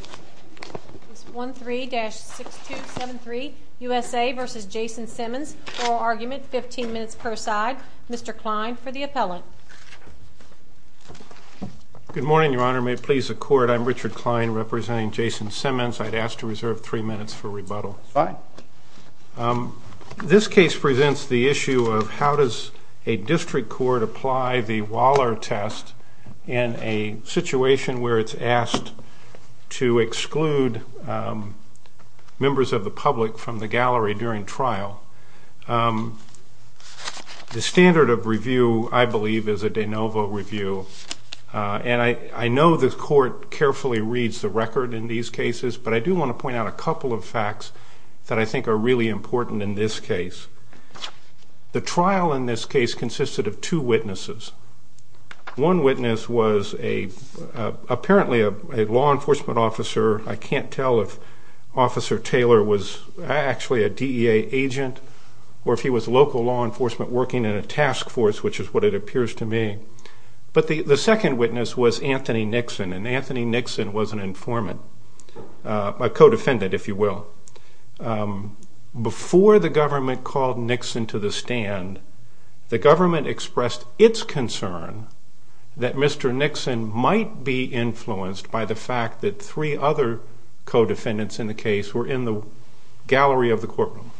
oral argument, 15 minutes per side. Mr. Kline for the appellant. Good morning, your honor. May it please the court, I'm Richard Kline representing Jason Simmons. I'd ask to reserve three minutes for rebuttal. This case presents the issue of how does a district court apply the Waller test in a situation where it's asked to exclude members of the public from the gallery during trial. The standard of review, I believe, is a de novo review. And I know the court carefully reads the record in these cases, but I do want to point out a couple of facts that I think are really important in this case. The trial in this case consisted of two witnesses. One witness was apparently a law enforcement officer. I can't tell if Officer Taylor was actually a DEA agent, or if he was local law enforcement working in a task force, which is what it appears to me. But the second witness was Anthony Nixon, and Anthony Nixon was an informant, a co-defendant, if you will. Before the government called Nixon to the stand, the government expressed its concern that Mr. Nixon might be influenced by the fact that three other co-defendants in the case were in the gallery of the courtroom.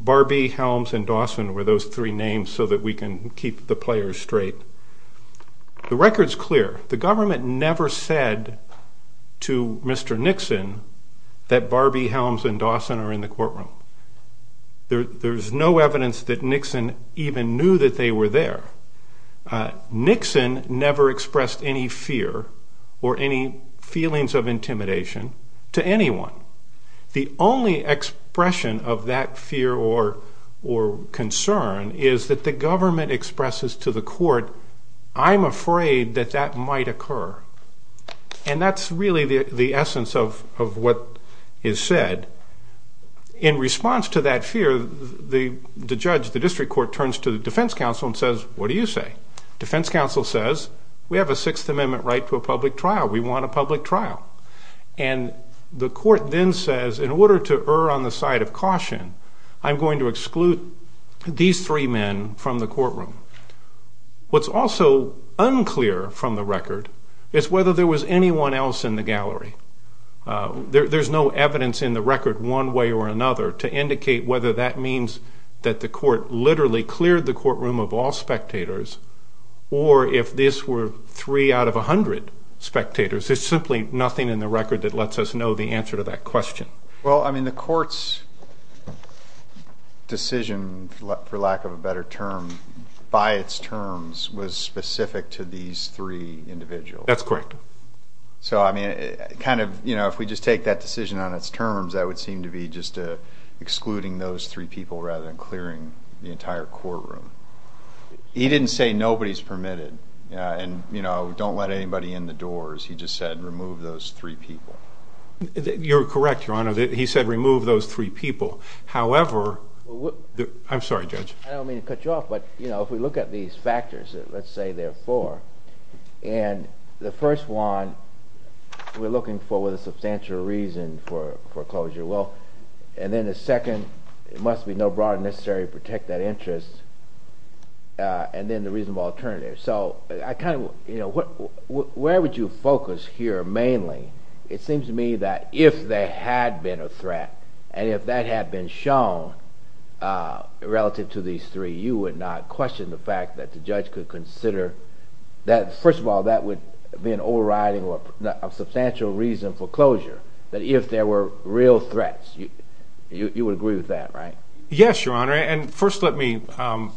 Barbie, Helms, and Dawson were those three names, so that we can keep the players straight. The record's clear. The government never said to Mr. Nixon that Barbie, Helms, and Dawson are in the courtroom. There's no evidence that Nixon even knew that they were there. Nixon never expressed any fear or any feelings of intimidation to anyone. The only expression of that fear or concern is that the government expresses to the court, I'm afraid that that might occur. And that's really the essence of what is said. In response to that fear, the judge, the district court, turns to the defense counsel and says, what do you say? Defense counsel says, we have a Sixth Amendment right to a public trial. We want a public trial. And the court then says, in order to err on the side of caution, I'm going to exclude these three men from the courtroom. What's also unclear from the record is whether there was anyone else in the gallery. There's no evidence in the record one way or another to indicate whether that means that the court literally cleared the courtroom of all spectators, or if this were three out of 100 spectators. There's simply nothing in the record that lets us know the answer to that question. The court's decision, for lack of a better term, by its terms, was specific to these three individuals. So if we just take that decision on its terms, that would seem to be just excluding those three people rather than clearing the entire courtroom. He didn't say nobody's permitted and don't let anybody in the doors. He just said remove those three people. You're correct, Your Honor. He said remove those three people. However, I'm sorry, Judge. I don't mean to cut you off, but if we look at these factors, let's say there are four, and the first one we're looking for with a substantial reason for closure, and then the second, it must be no broader necessary to protect that interest, and then the reasonable alternative. So where would you focus here mainly? It seems to me that if there had been a threat and if that had been shown relative to these three, you would not question the fact that the judge could consider that. First of all, that would be an overriding or a substantial reason for closure, that if there were real threats, you would agree with that, right? Yes, Your Honor, and first let me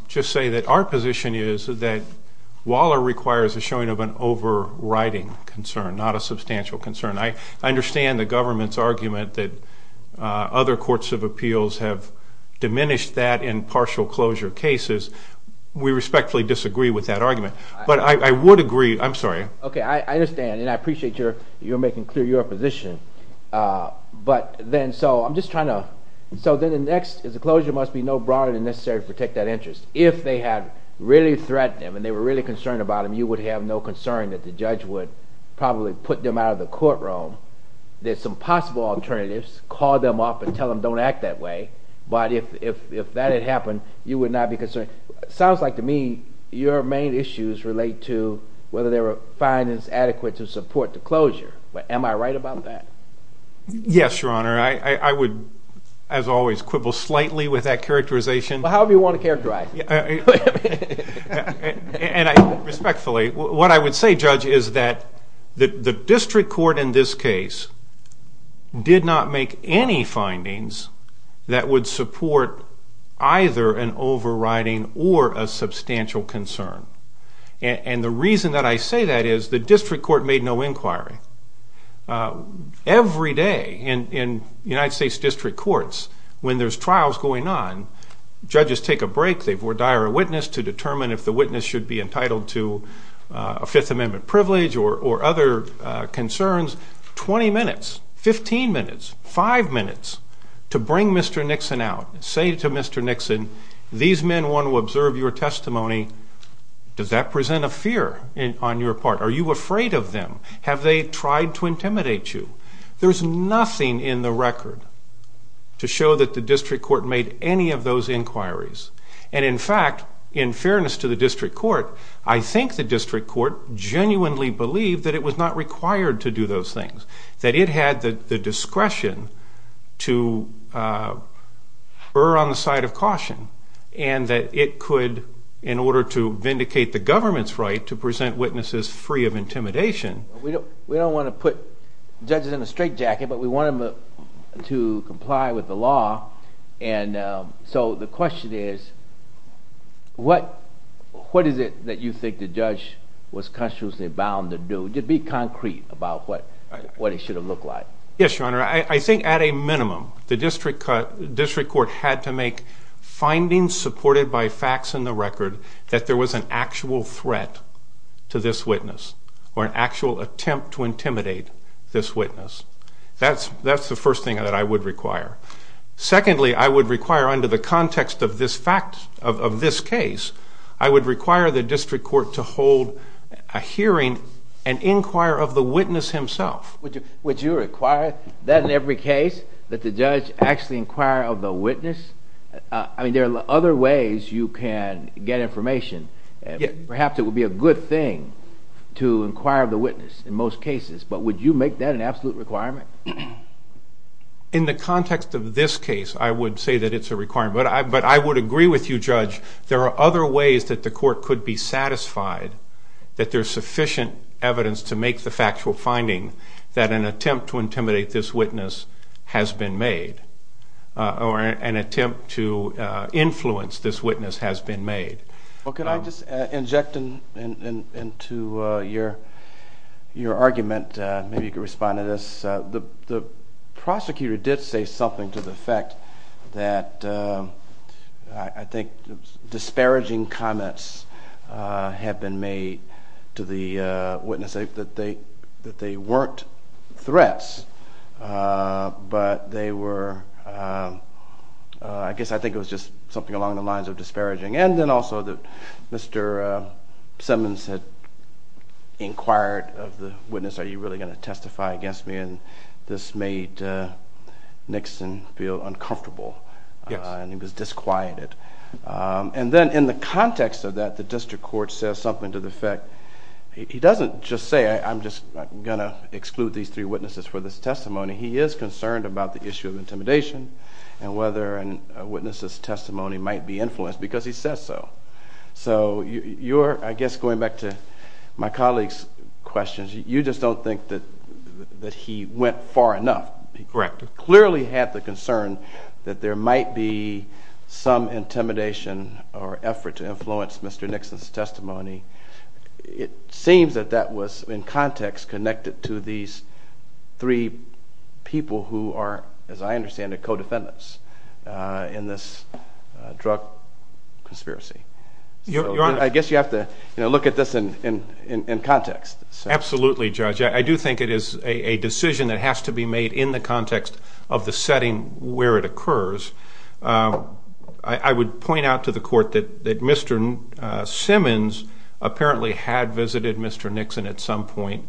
just say that our position is that Waller requires the showing of an overriding concern, not a substantial concern. I understand the government's argument that other courts of appeals have diminished that in partial closure cases. We respectfully disagree with that argument, but I would agree. I'm sorry. Okay, I understand, and I appreciate you're making clear your position. But then, so I'm just trying to, so then the next is the closure must be no broader than necessary to protect that interest. If they had really threatened him and they were really concerned about him, you would have no concern that the judge would probably put them out of the courtroom. There's some possible alternatives, call them up and tell them don't act that way, but if that had happened, you would not be concerned. Sounds like to me your main issues relate to whether there were findings adequate to support the closure. Am I right about that? Yes, Your Honor. I would, as always, quibble slightly with that characterization. However you want to characterize it. And I respectfully, what I would say, Judge, is that the district court in this case did not make any findings that would support either an overriding or a substantial concern. And the reason that I say that is the district court made no inquiry. Every day in United States district courts, when there's trials going on, judges take a break. They would hire a witness to determine if the witness should be entitled to a Fifth Amendment privilege or other concerns. 20 minutes, 15 minutes, 5 minutes to bring Mr. Nixon out. Say to Mr. Nixon, these men want to observe your testimony. Does that present a fear on your part? Are you afraid of them? Have they tried to intimidate you? There's nothing in the record to show that the district court made any of those inquiries. And in fact, in fairness to the district court, I think the district court genuinely believed that it was not required to do those things. That it had the discretion to err on the side of caution. And that it could, in order to vindicate the government's right to present witnesses free of intimidation. We don't want to put judges in a straitjacket, but we want them to comply with the law. And so the question is, what is it that you think the judge was consciously bound to do? Be concrete about what it should have looked like. Yes, Your Honor, I think at a minimum, the district court had to make findings supported by facts in the record that there was an actual threat to this witness, or an actual attempt to intimidate this witness. That's the first thing that I would require. Secondly, I would require under the context of this fact, of this case, I would require the district court to hold a hearing and inquire of the witness himself. Would you require that in every case? That the judge actually inquire of the witness? I mean, there are other ways you can get information. Perhaps it would be a good thing to inquire of the witness in most cases. But would you make that an absolute requirement? In the context of this case, I would say that it's a requirement. But I would agree with you, Judge. There are other ways that the court could be satisfied that there's sufficient evidence to make the factual finding that an attempt to intimidate this witness has been made, or an attempt to influence this witness has been made. Well, can I just inject into your argument, maybe you could respond to this, the prosecutor did say something to the effect that I think disparaging comments have been made to the witness, that they weren't threats, but they were, I guess I think it was just something along the lines of disparaging. And then also that Mr. Simmons had inquired of the witness, are you really going to testify against me? And this made Nixon feel uncomfortable, and he was disquieted. And then in the context of that, the district court says something to the effect, he doesn't just say I'm just going to exclude these three witnesses for this testimony. He is concerned about the issue of intimidation and whether a witness's testimony might be influenced. Because he says so. So you're, I guess going back to my colleague's questions, you just don't think that he went far enough. Correct. To clearly have the concern that there might be some intimidation or effort to influence Mr. Nixon's testimony. It seems that that was in context connected to these three people who are, as I understand it, co-defendants in this drug conspiracy. I guess you have to look at this in context. Absolutely, Judge. I do think it is a decision that has to be made in the context of the setting where it occurs. I would point out to the court that Mr. Simmons apparently had visited Mr. Nixon at some point,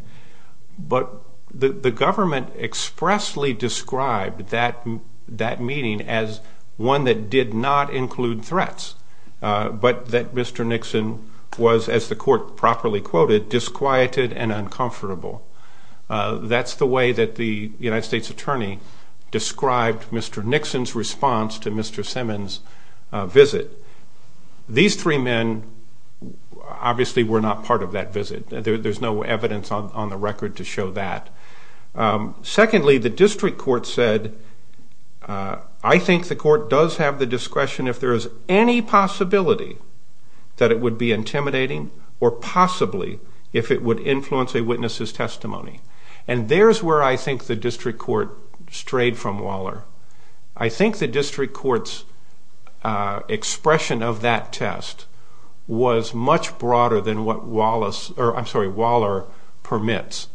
but the government expressly described that meeting as one that did not include threats, but that Mr. Nixon was, as the court properly quoted, disquieted and uncomfortable. That's the way that the United States Attorney described Mr. Nixon's response to Mr. Simmons' visit. These three men obviously were not part of that visit. There's no evidence on the record to show that. Secondly, the district court said, I think the court does have the discretion if there is any possibility that it would be intimidating or possibly if it would influence a witness's testimony. And there's where I think the district court strayed from Waller. I think the district court's expression of that test was much broader than what Waller permits.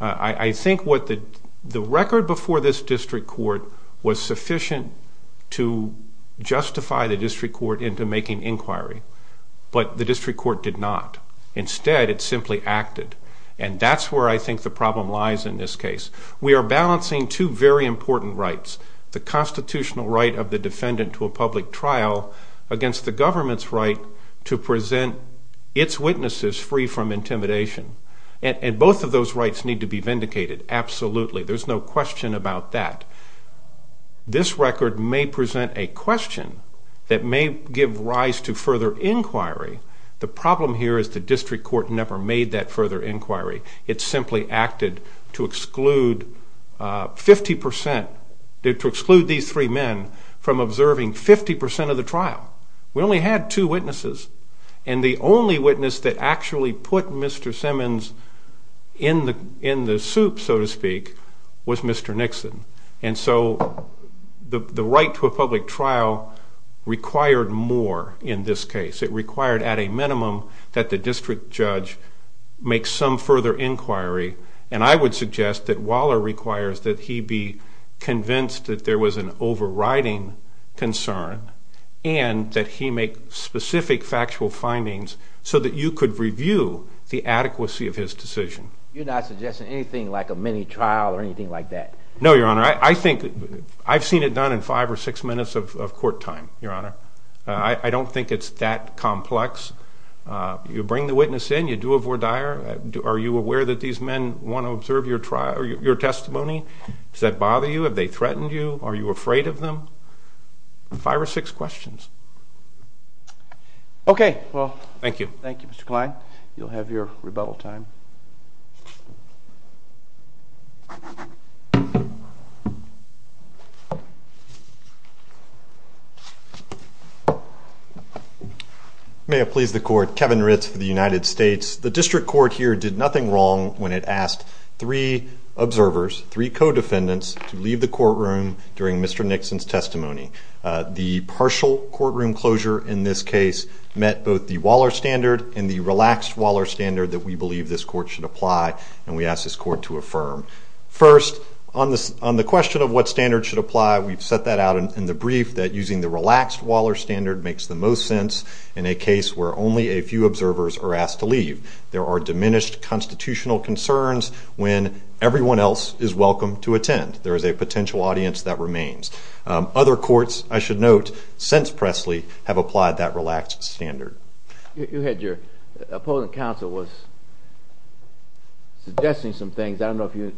I think the record before this district court was sufficient to justify the district court into making inquiry, but the district court did not. Instead, it simply acted. And that's where I think the problem lies in this case. We are balancing two very important rights, the constitutional right of the defendant to a public trial against the government's right to present its witnesses free from intimidation. And both of those rights need to be vindicated, absolutely. There's no question about that. This record may present a question that may give rise to further inquiry. The problem here is the district court never made that further inquiry. It simply acted to exclude 50 percent, to exclude these three men from observing 50 percent of the trial. We only had two witnesses. And the only witness that actually put Mr. Simmons in the soup, so to speak, was Mr. Nixon. And so the right to a public trial required more in this case. It required at a minimum that the district judge make some further inquiry. And I would suggest that Waller requires that he be convinced that there was an overriding concern and that he make specific factual findings so that you could review the adequacy of his decision. You're not suggesting anything like a mini trial or anything like that? No, Your Honor. I think I've seen it done in five or six minutes of court time, Your Honor. I don't think it's that complex. You bring the witness in. You do a voir dire. Are you aware that these men want to observe your testimony? Does that bother you? Have they threatened you? Are you afraid of them? Five or six questions. Okay. Thank you. Thank you, Mr. Kline. You'll have your rebuttal time. May it please the Court, Kevin Ritz for the United States. The district court here did nothing wrong when it asked three observers, three co-defendants, to leave the courtroom during Mr. Nixon's testimony. The partial courtroom closure in this case met both the Waller standard and the relaxed Waller standard that we believe this court should apply and we ask this court to affirm. First, on the question of what standard should apply, we've set that out in the brief that using the relaxed Waller standard makes the most sense in a case where only a few observers are asked to leave. There are diminished constitutional concerns when everyone else is welcome to attend. There is a potential audience that remains. Other courts, I should note, since Presley, have applied that relaxed standard. You had your opponent counsel was suggesting some things. I don't know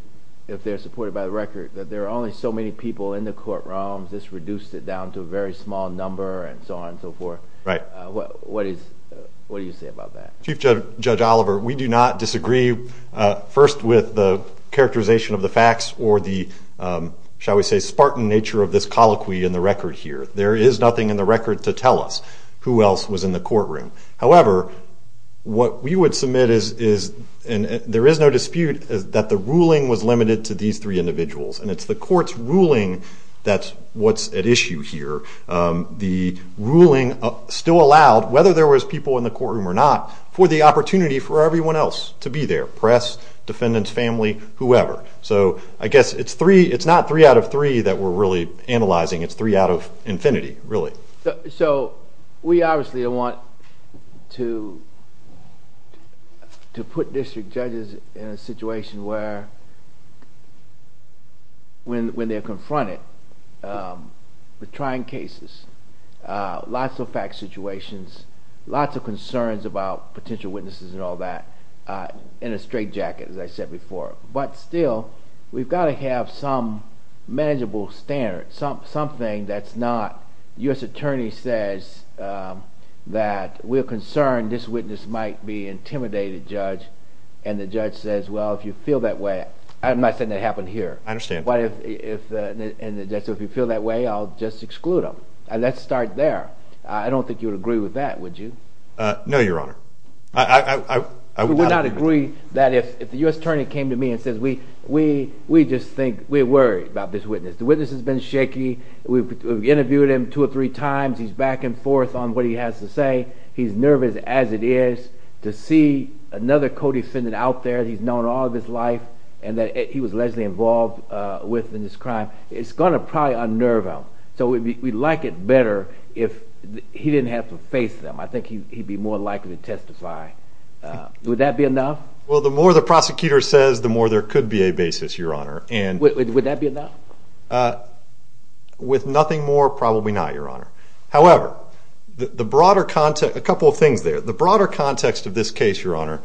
if they're supported by the record, but there are only so many people in the courtroom. This reduced it down to a very small number and so on and so forth. Right. What do you say about that? Chief Judge Oliver, we do not disagree, first, with the characterization of the facts or the, shall we say, spartan nature of this colloquy in the record here. There is nothing in the record to tell us who else was in the courtroom. However, what we would submit is, and there is no dispute, that the ruling was limited to these three individuals, and it's the court's ruling that's what's at issue here. The ruling still allowed, whether there was people in the courtroom or not, for the opportunity for everyone else to be there, press, defendants, family, whoever. So I guess it's not three out of three that we're really analyzing. It's three out of infinity, really. So we obviously want to put district judges in a situation where, when they're confronted with trying cases, lots of fact situations, lots of concerns about potential witnesses and all that, in a straight jacket, as I said before. But still, we've got to have some manageable standard, something that's not, the U.S. attorney says that we're concerned this witness might be an intimidated judge, and the judge says, well, if you feel that way. I'm not saying that happened here. I understand. So if you feel that way, I'll just exclude them. Let's start there. I don't think you would agree with that, would you? No, Your Honor. I would not agree that if the U.S. attorney came to me and said, we just think we're worried about this witness. The witness has been shaky. We've interviewed him two or three times. He's back and forth on what he has to say. He's nervous as it is. To see another co-defendant out there that he's known all of his life and that he was allegedly involved with in this crime, it's going to probably unnerve him. So we'd like it better if he didn't have to face them. I think he'd be more likely to testify. Would that be enough? Well, the more the prosecutor says, the more there could be a basis, Your Honor. Would that be enough? With nothing more, probably not, Your Honor. However, a couple of things there. The broader context of this case, Your Honor,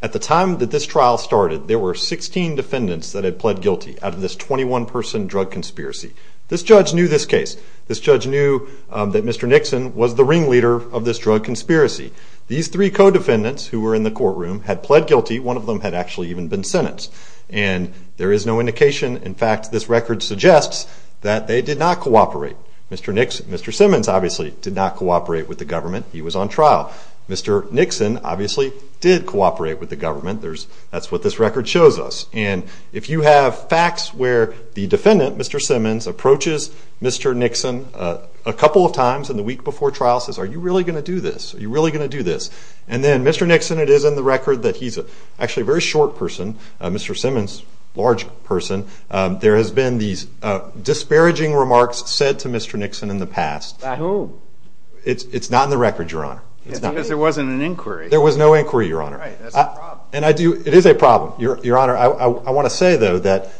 at the time that this trial started, there were 16 defendants that had pled guilty out of this 21-person drug conspiracy. This judge knew this case. This judge knew that Mr. Nixon was the ringleader of this drug conspiracy. These three co-defendants who were in the courtroom had pled guilty. One of them had actually even been sentenced. And there is no indication. In fact, this record suggests that they did not cooperate. Mr. Simmons obviously did not cooperate with the government. He was on trial. Mr. Nixon obviously did cooperate with the government. That's what this record shows us. And if you have facts where the defendant, Mr. Simmons, approaches Mr. Nixon a couple of times in the week before trial and says, Are you really going to do this? Are you really going to do this? And then Mr. Nixon, it is in the record that he's actually a very short person. Mr. Simmons, large person. There has been these disparaging remarks said to Mr. Nixon in the past. By whom? It's not in the record, Your Honor. Because there wasn't an inquiry. There was no inquiry, Your Honor. That's a problem. It is a problem, Your Honor. I want to say, though, that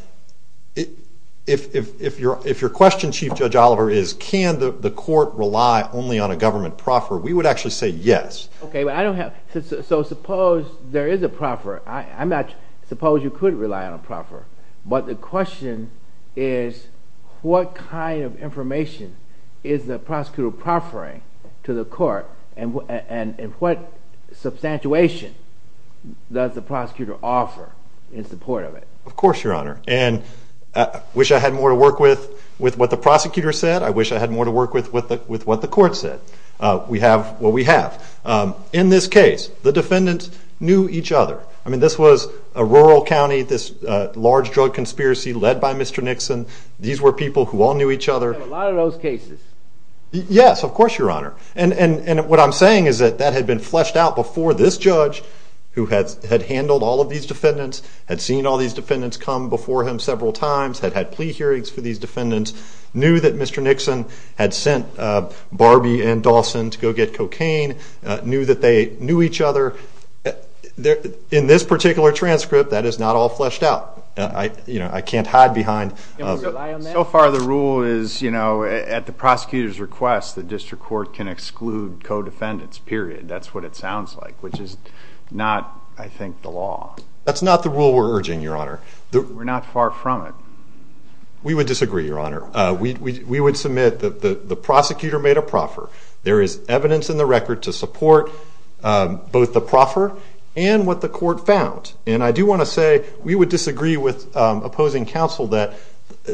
if your question, Chief Judge Oliver, is can the court rely only on a government proffer, we would actually say yes. Okay, but I don't have – so suppose there is a proffer. I'm not – suppose you could rely on a proffer. But the question is what kind of information is the prosecutor proffering to the court and what substantiation does the prosecutor offer in support of it? Of course, Your Honor. And I wish I had more to work with what the prosecutor said. I wish I had more to work with what the court said. We have what we have. In this case, the defendants knew each other. I mean this was a rural county, this large drug conspiracy led by Mr. Nixon. These were people who all knew each other. A lot of those cases. Yes, of course, Your Honor. And what I'm saying is that that had been fleshed out before this judge, who had handled all of these defendants, had seen all these defendants come before him several times, had had plea hearings for these defendants, knew that Mr. Nixon had sent Barbie and Dawson to go get cocaine, knew that they knew each other. In this particular transcript, that is not all fleshed out. I can't hide behind – So far the rule is, you know, at the prosecutor's request, the district court can exclude co-defendants, period. That's what it sounds like, which is not, I think, the law. That's not the rule we're urging, Your Honor. We're not far from it. We would disagree, Your Honor. We would submit that the prosecutor made a proffer. There is evidence in the record to support both the proffer and what the court found. And I do want to say we would disagree with opposing counsel that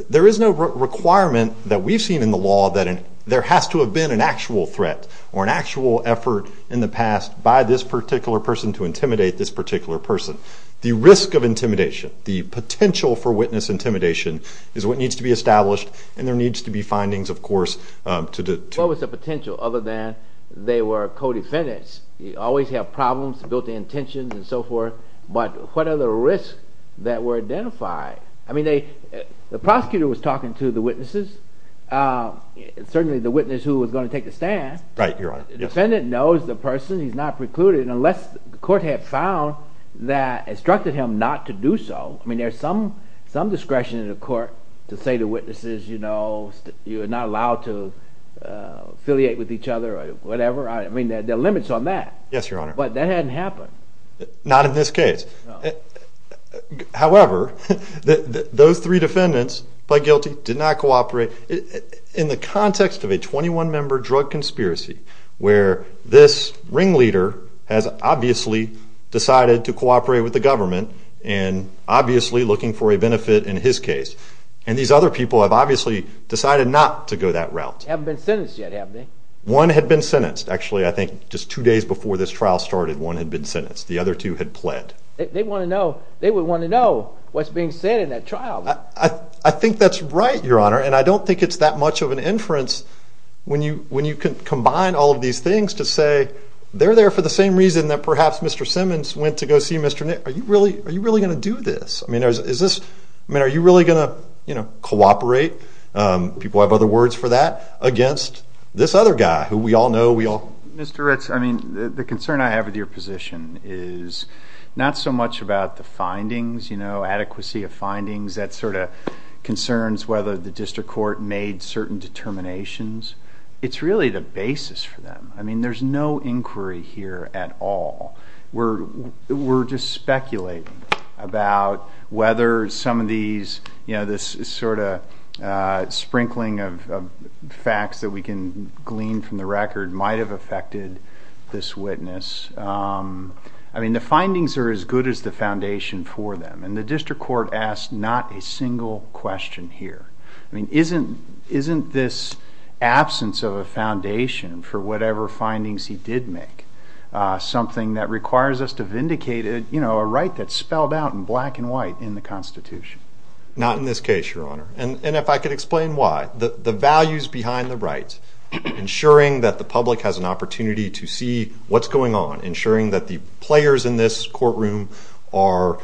there is no requirement that we've seen in the law that there has to have been an actual threat or an actual effort in the past by this particular person to intimidate this particular person. The risk of intimidation, the potential for witness intimidation, is what needs to be established, and there needs to be findings, of course, to – What was the potential, other than they were co-defendants? You always have problems, built-in tensions, and so forth. But what are the risks that were identified? I mean, the prosecutor was talking to the witnesses, certainly the witness who was going to take the stand. Right, Your Honor. The defendant knows the person. He's not precluded. Unless the court had found that – instructed him not to do so. I mean, there's some discretion in the court to say to witnesses, you know, you're not allowed to affiliate with each other or whatever. I mean, there are limits on that. Yes, Your Honor. But that hadn't happened. Not in this case. However, those three defendants pled guilty, did not cooperate. In the context of a 21-member drug conspiracy, where this ringleader has obviously decided to cooperate with the government and obviously looking for a benefit in his case, and these other people have obviously decided not to go that route. Haven't been sentenced yet, have they? One had been sentenced. Actually, I think just two days before this trial started, one had been sentenced. The other two had pled. They want to know. They would want to know what's being said in that trial. I think that's right, Your Honor, and I don't think it's that much of an inference when you combine all of these things to say they're there for the same reason that perhaps Mr. Simmons went to go see Mr. – are you really going to do this? I mean, is this – I mean, are you really going to, you know, cooperate? People have other words for that. Against this other guy who we all know, we all – Mr. Ritz, I mean, the concern I have with your position is not so much about the findings, you know, adequacy of findings. That sort of concerns whether the district court made certain determinations. It's really the basis for them. I mean, there's no inquiry here at all. We're just speculating about whether some of these, you know, this sort of sprinkling of facts that we can glean from the record might have affected this witness. I mean, the findings are as good as the foundation for them, and the district court asked not a single question here. I mean, isn't this absence of a foundation for whatever findings he did make something that requires us to vindicate, you know, a right that's spelled out in black and white in the Constitution? Not in this case, Your Honor, and if I could explain why. The values behind the rights, ensuring that the public has an opportunity to see what's going on, ensuring that the players in this courtroom are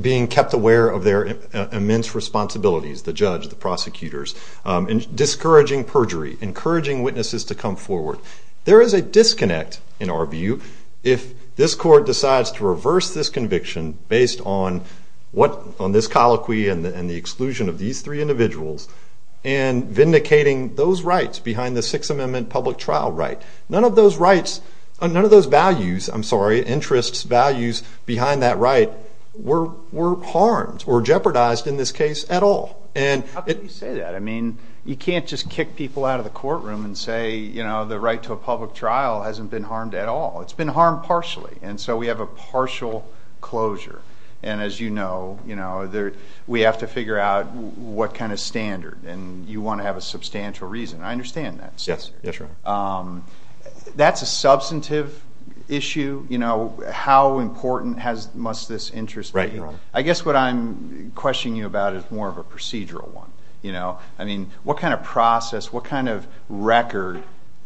being kept aware of their immense responsibilities, the judge, the prosecutors, and discouraging perjury, encouraging witnesses to come forward. There is a disconnect, in our view, if this court decides to reverse this conviction based on this colloquy and the exclusion of these three individuals and vindicating those rights behind the Sixth Amendment public trial right. None of those rights, none of those values, I'm sorry, interests, values behind that right were harmed or jeopardized in this case at all. How can you say that? I mean, you can't just kick people out of the courtroom and say, you know, the right to a public trial hasn't been harmed at all. It's been harmed partially, and so we have a partial closure. And as you know, we have to figure out what kind of standard, and you want to have a substantial reason. I understand that. Yes, yes, Your Honor. That's a substantive issue. How important must this interest be? Right, Your Honor. I guess what I'm questioning you about is more of a procedural one. I mean, what kind of process, what kind of record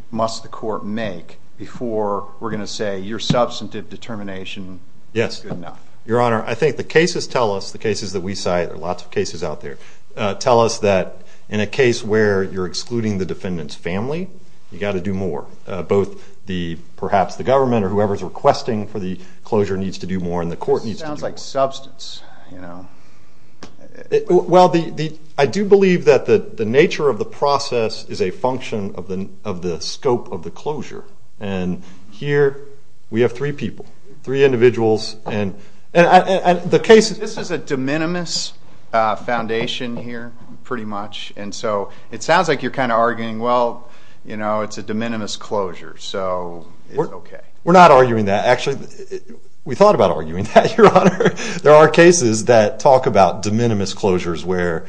must the court make before we're going to say your substantive determination is good enough? Yes. Your Honor, I think the cases tell us, the cases that we cite, there are lots of cases out there, tell us that in a case where you're excluding the defendant's family, you've got to do more. Both perhaps the government or whoever is requesting for the closure needs to do more and the court needs to do more. It sounds like substance. Well, I do believe that the nature of the process is a function of the scope of the closure, and here we have three people, three individuals. This is a de minimis foundation here pretty much, and so it sounds like you're kind of arguing, well, it's a de minimis closure, so it's okay. We're not arguing that. Actually, we thought about arguing that, Your Honor. There are cases that talk about de minimis closures where,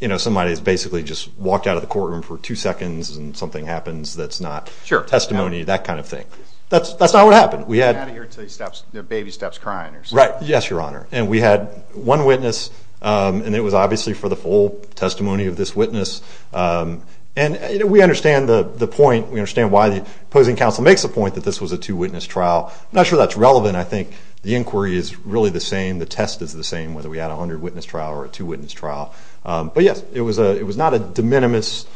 you know, somebody has basically just walked out of the courtroom for two seconds and something happens that's not testimony, that kind of thing. That's not what happened. We had one witness, and it was obviously for the full testimony of this witness, and we understand the point. We understand why the opposing counsel makes the point that this was a two-witness trial. I'm not sure that's relevant. I think the inquiry is really the same. The test is the same, whether we had a hundred-witness trial or a two-witness trial. But, yes, it was not a de minimis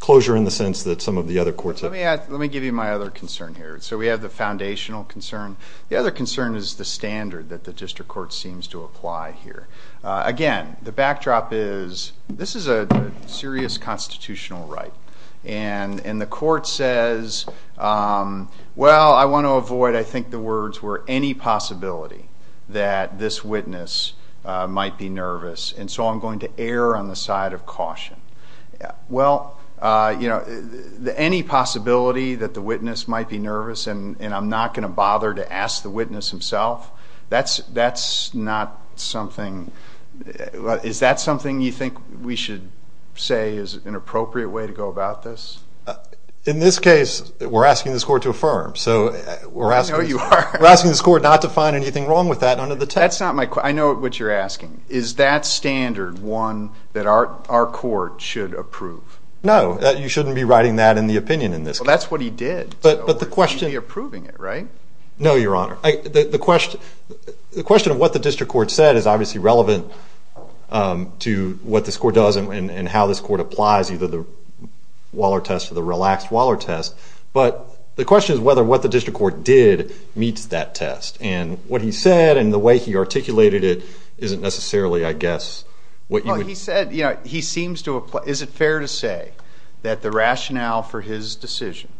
closure in the sense that some of the other courts have. Let me give you my other concern here. So we have the foundational concern. The other concern is the standard that the district court seems to apply here. Again, the backdrop is this is a serious constitutional right, and the court says, well, I want to avoid, I think the words were, any possibility that this witness might be nervous, and so I'm going to err on the side of caution. Well, you know, any possibility that the witness might be nervous and I'm not going to bother to ask the witness himself, that's not something. Is that something you think we should say is an appropriate way to go about this? In this case, we're asking this court to affirm. So we're asking this court not to find anything wrong with that under the test. That's not my question. I know what you're asking. Is that standard one that our court should approve? No. You shouldn't be writing that in the opinion in this case. Well, that's what he did. But the question. You're approving it, right? No, Your Honor. The question of what the district court said is obviously relevant to what this court does and how this court applies either the Waller test or the relaxed Waller test, but the question is whether what the district court did meets that test. And what he said and the way he articulated it isn't necessarily, I guess, what you would. Well, he said, you know, he seems to apply. Is it fair to say that the rationale for his decision,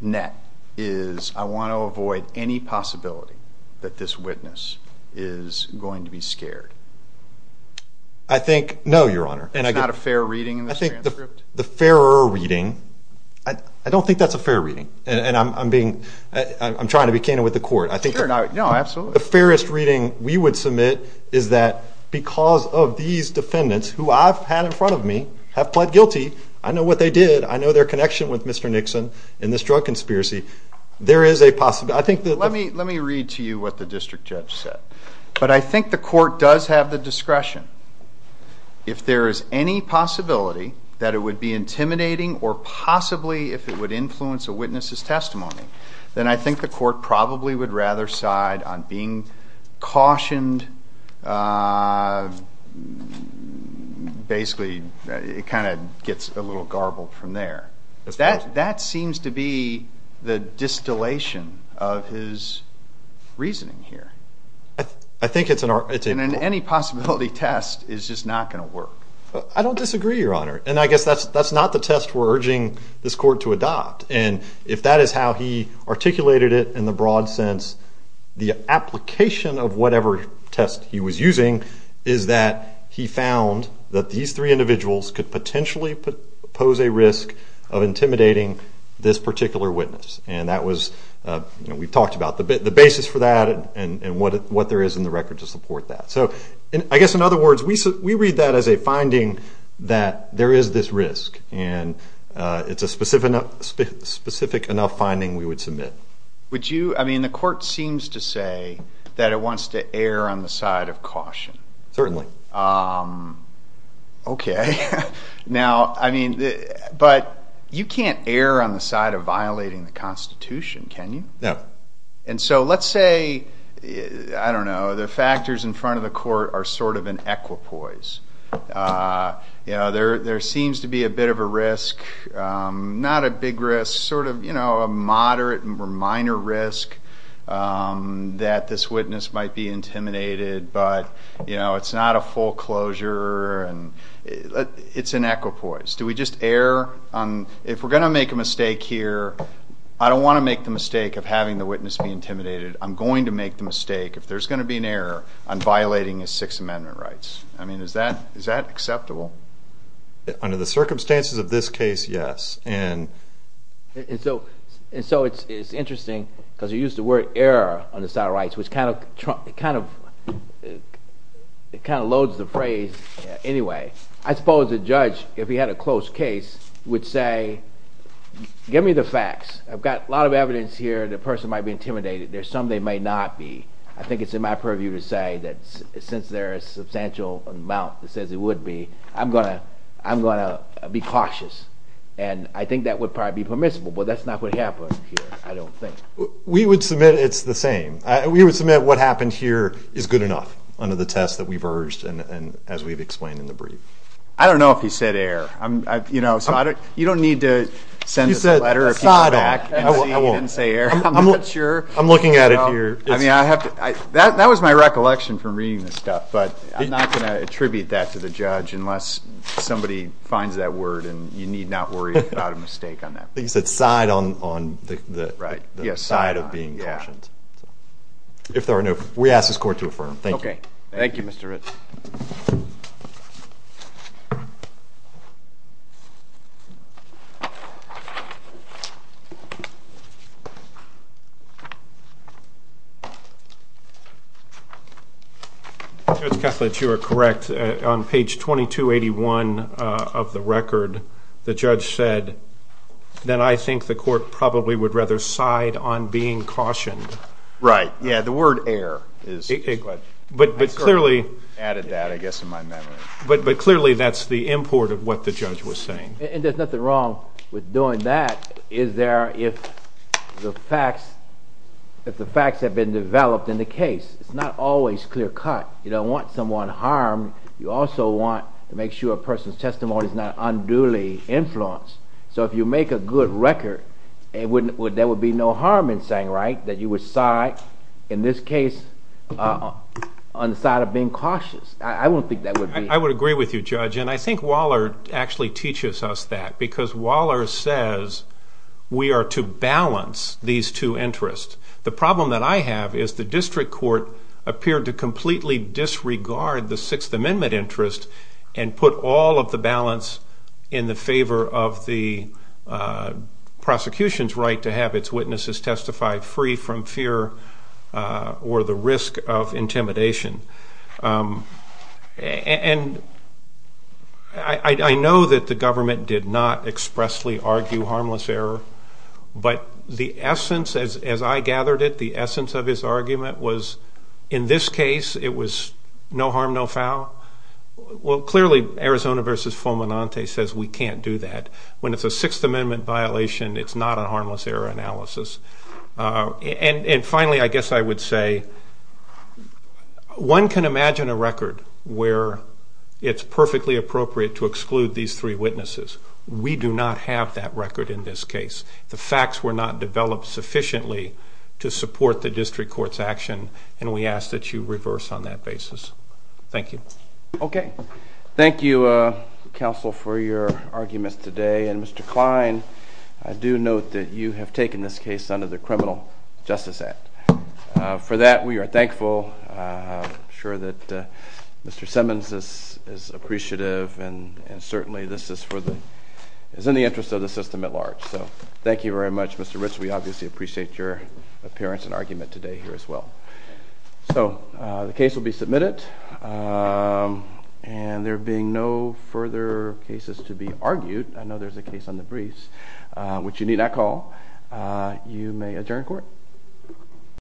net, is I want to avoid any possibility that this witness is going to be scared? I think, no, Your Honor. It's not a fair reading in this transcript? The fairer reading, I don't think that's a fair reading. And I'm trying to be candid with the court. No, absolutely. The fairest reading we would submit is that because of these defendants, who I've had in front of me, have pled guilty, I know what they did, I know their connection with Mr. Nixon and this drug conspiracy. There is a possibility. Let me read to you what the district judge said. But I think the court does have the discretion. If there is any possibility that it would be intimidating or possibly if it would influence a witness's testimony, then I think the court probably would rather side on being cautioned. Basically, it kind of gets a little garbled from there. That seems to be the distillation of his reasoning here. I think it's an argument. Any possibility test is just not going to work. I don't disagree, Your Honor. And I guess that's not the test we're urging this court to adopt. And if that is how he articulated it in the broad sense, the application of whatever test he was using is that he found that these three individuals could potentially pose a risk of intimidating this particular witness. We've talked about the basis for that and what there is in the record to support that. I guess, in other words, we read that as a finding that there is this risk, and it's a specific enough finding we would submit. The court seems to say that it wants to err on the side of caution. Certainly. Okay. But you can't err on the side of violating the Constitution, can you? No. And so let's say, I don't know, the factors in front of the court are sort of an equipoise. There seems to be a bit of a risk, not a big risk, sort of a moderate or minor risk that this witness might be intimidated, but it's not a full closure. It's an equipoise. Do we just err? If we're going to make a mistake here, I don't want to make the mistake of having the witness be intimidated. I'm going to make the mistake, if there's going to be an error, on violating his Sixth Amendment rights. I mean, is that acceptable? Under the circumstances of this case, yes. And so it's interesting, because you used the word err on the side of rights, which kind of loads the phrase anyway. I suppose a judge, if he had a close case, would say, give me the facts. I've got a lot of evidence here that a person might be intimidated. There's some they might not be. I think it's in my purview to say that since there is a substantial amount that says it would be, I'm going to be cautious. And I think that would probably be permissible, but that's not what happened here, I don't think. We would submit it's the same. We would submit what happened here is good enough under the test that we've urged and as we've explained in the brief. I don't know if he said err. You don't need to send us a letter if you come back and say err. I'm not sure. I'm looking at it here. That was my recollection from reading this stuff, but I'm not going to attribute that to the judge unless somebody finds that word and you need not worry about a mistake on that. He said side on the side of being cautious. If there are no questions, we ask this Court to affirm. Thank you. Thank you, Mr. Ritz. Judge Kessler, you are correct. On page 2281 of the record the judge said that I think the Court probably would rather side on being cautioned. Right. Yeah, the word err is what I added that, I guess, in my memory. But clearly that's the import of what the judge was saying. And there's nothing wrong with doing that, is there, if the facts have been developed in the case. It's not always clear cut. You don't want someone harmed. You also want to make sure a person's testimony is not unduly influenced. So if you make a good record, there would be no harm in saying, right, that you would side, in this case, on the side of being cautious. I don't think that would be. I would agree with you, Judge. And I think Waller actually teaches us that because Waller says we are to balance these two interests. The problem that I have is the district court appeared to completely disregard the Sixth Amendment interest and put all of the balance in the favor of the prosecution's right to have its witnesses testify free from fear or the risk of intimidation. And I know that the government did not expressly argue harmless error, but the essence, as I gathered it, the essence of his argument was, in this case, it was no harm, no foul. Well, clearly, Arizona v. Fomenante says we can't do that. When it's a Sixth Amendment violation, it's not a harmless error analysis. And finally, I guess I would say one can imagine a record where it's perfectly appropriate to exclude these three witnesses. We do not have that record in this case. The facts were not developed sufficiently to support the district court's action, and we ask that you reverse on that basis. Thank you. Okay. Thank you, counsel, for your arguments today. And, Mr. Klein, I do note that you have taken this case under the Criminal Justice Act. For that, we are thankful. I'm sure that Mr. Simmons is appreciative, and certainly this is in the interest of the system at large. So thank you very much, Mr. Ritz. We obviously appreciate your appearance and argument today here as well. So the case will be submitted, and there being no further cases to be argued, I know there's a case on the briefs, which you need not call. You may adjourn court.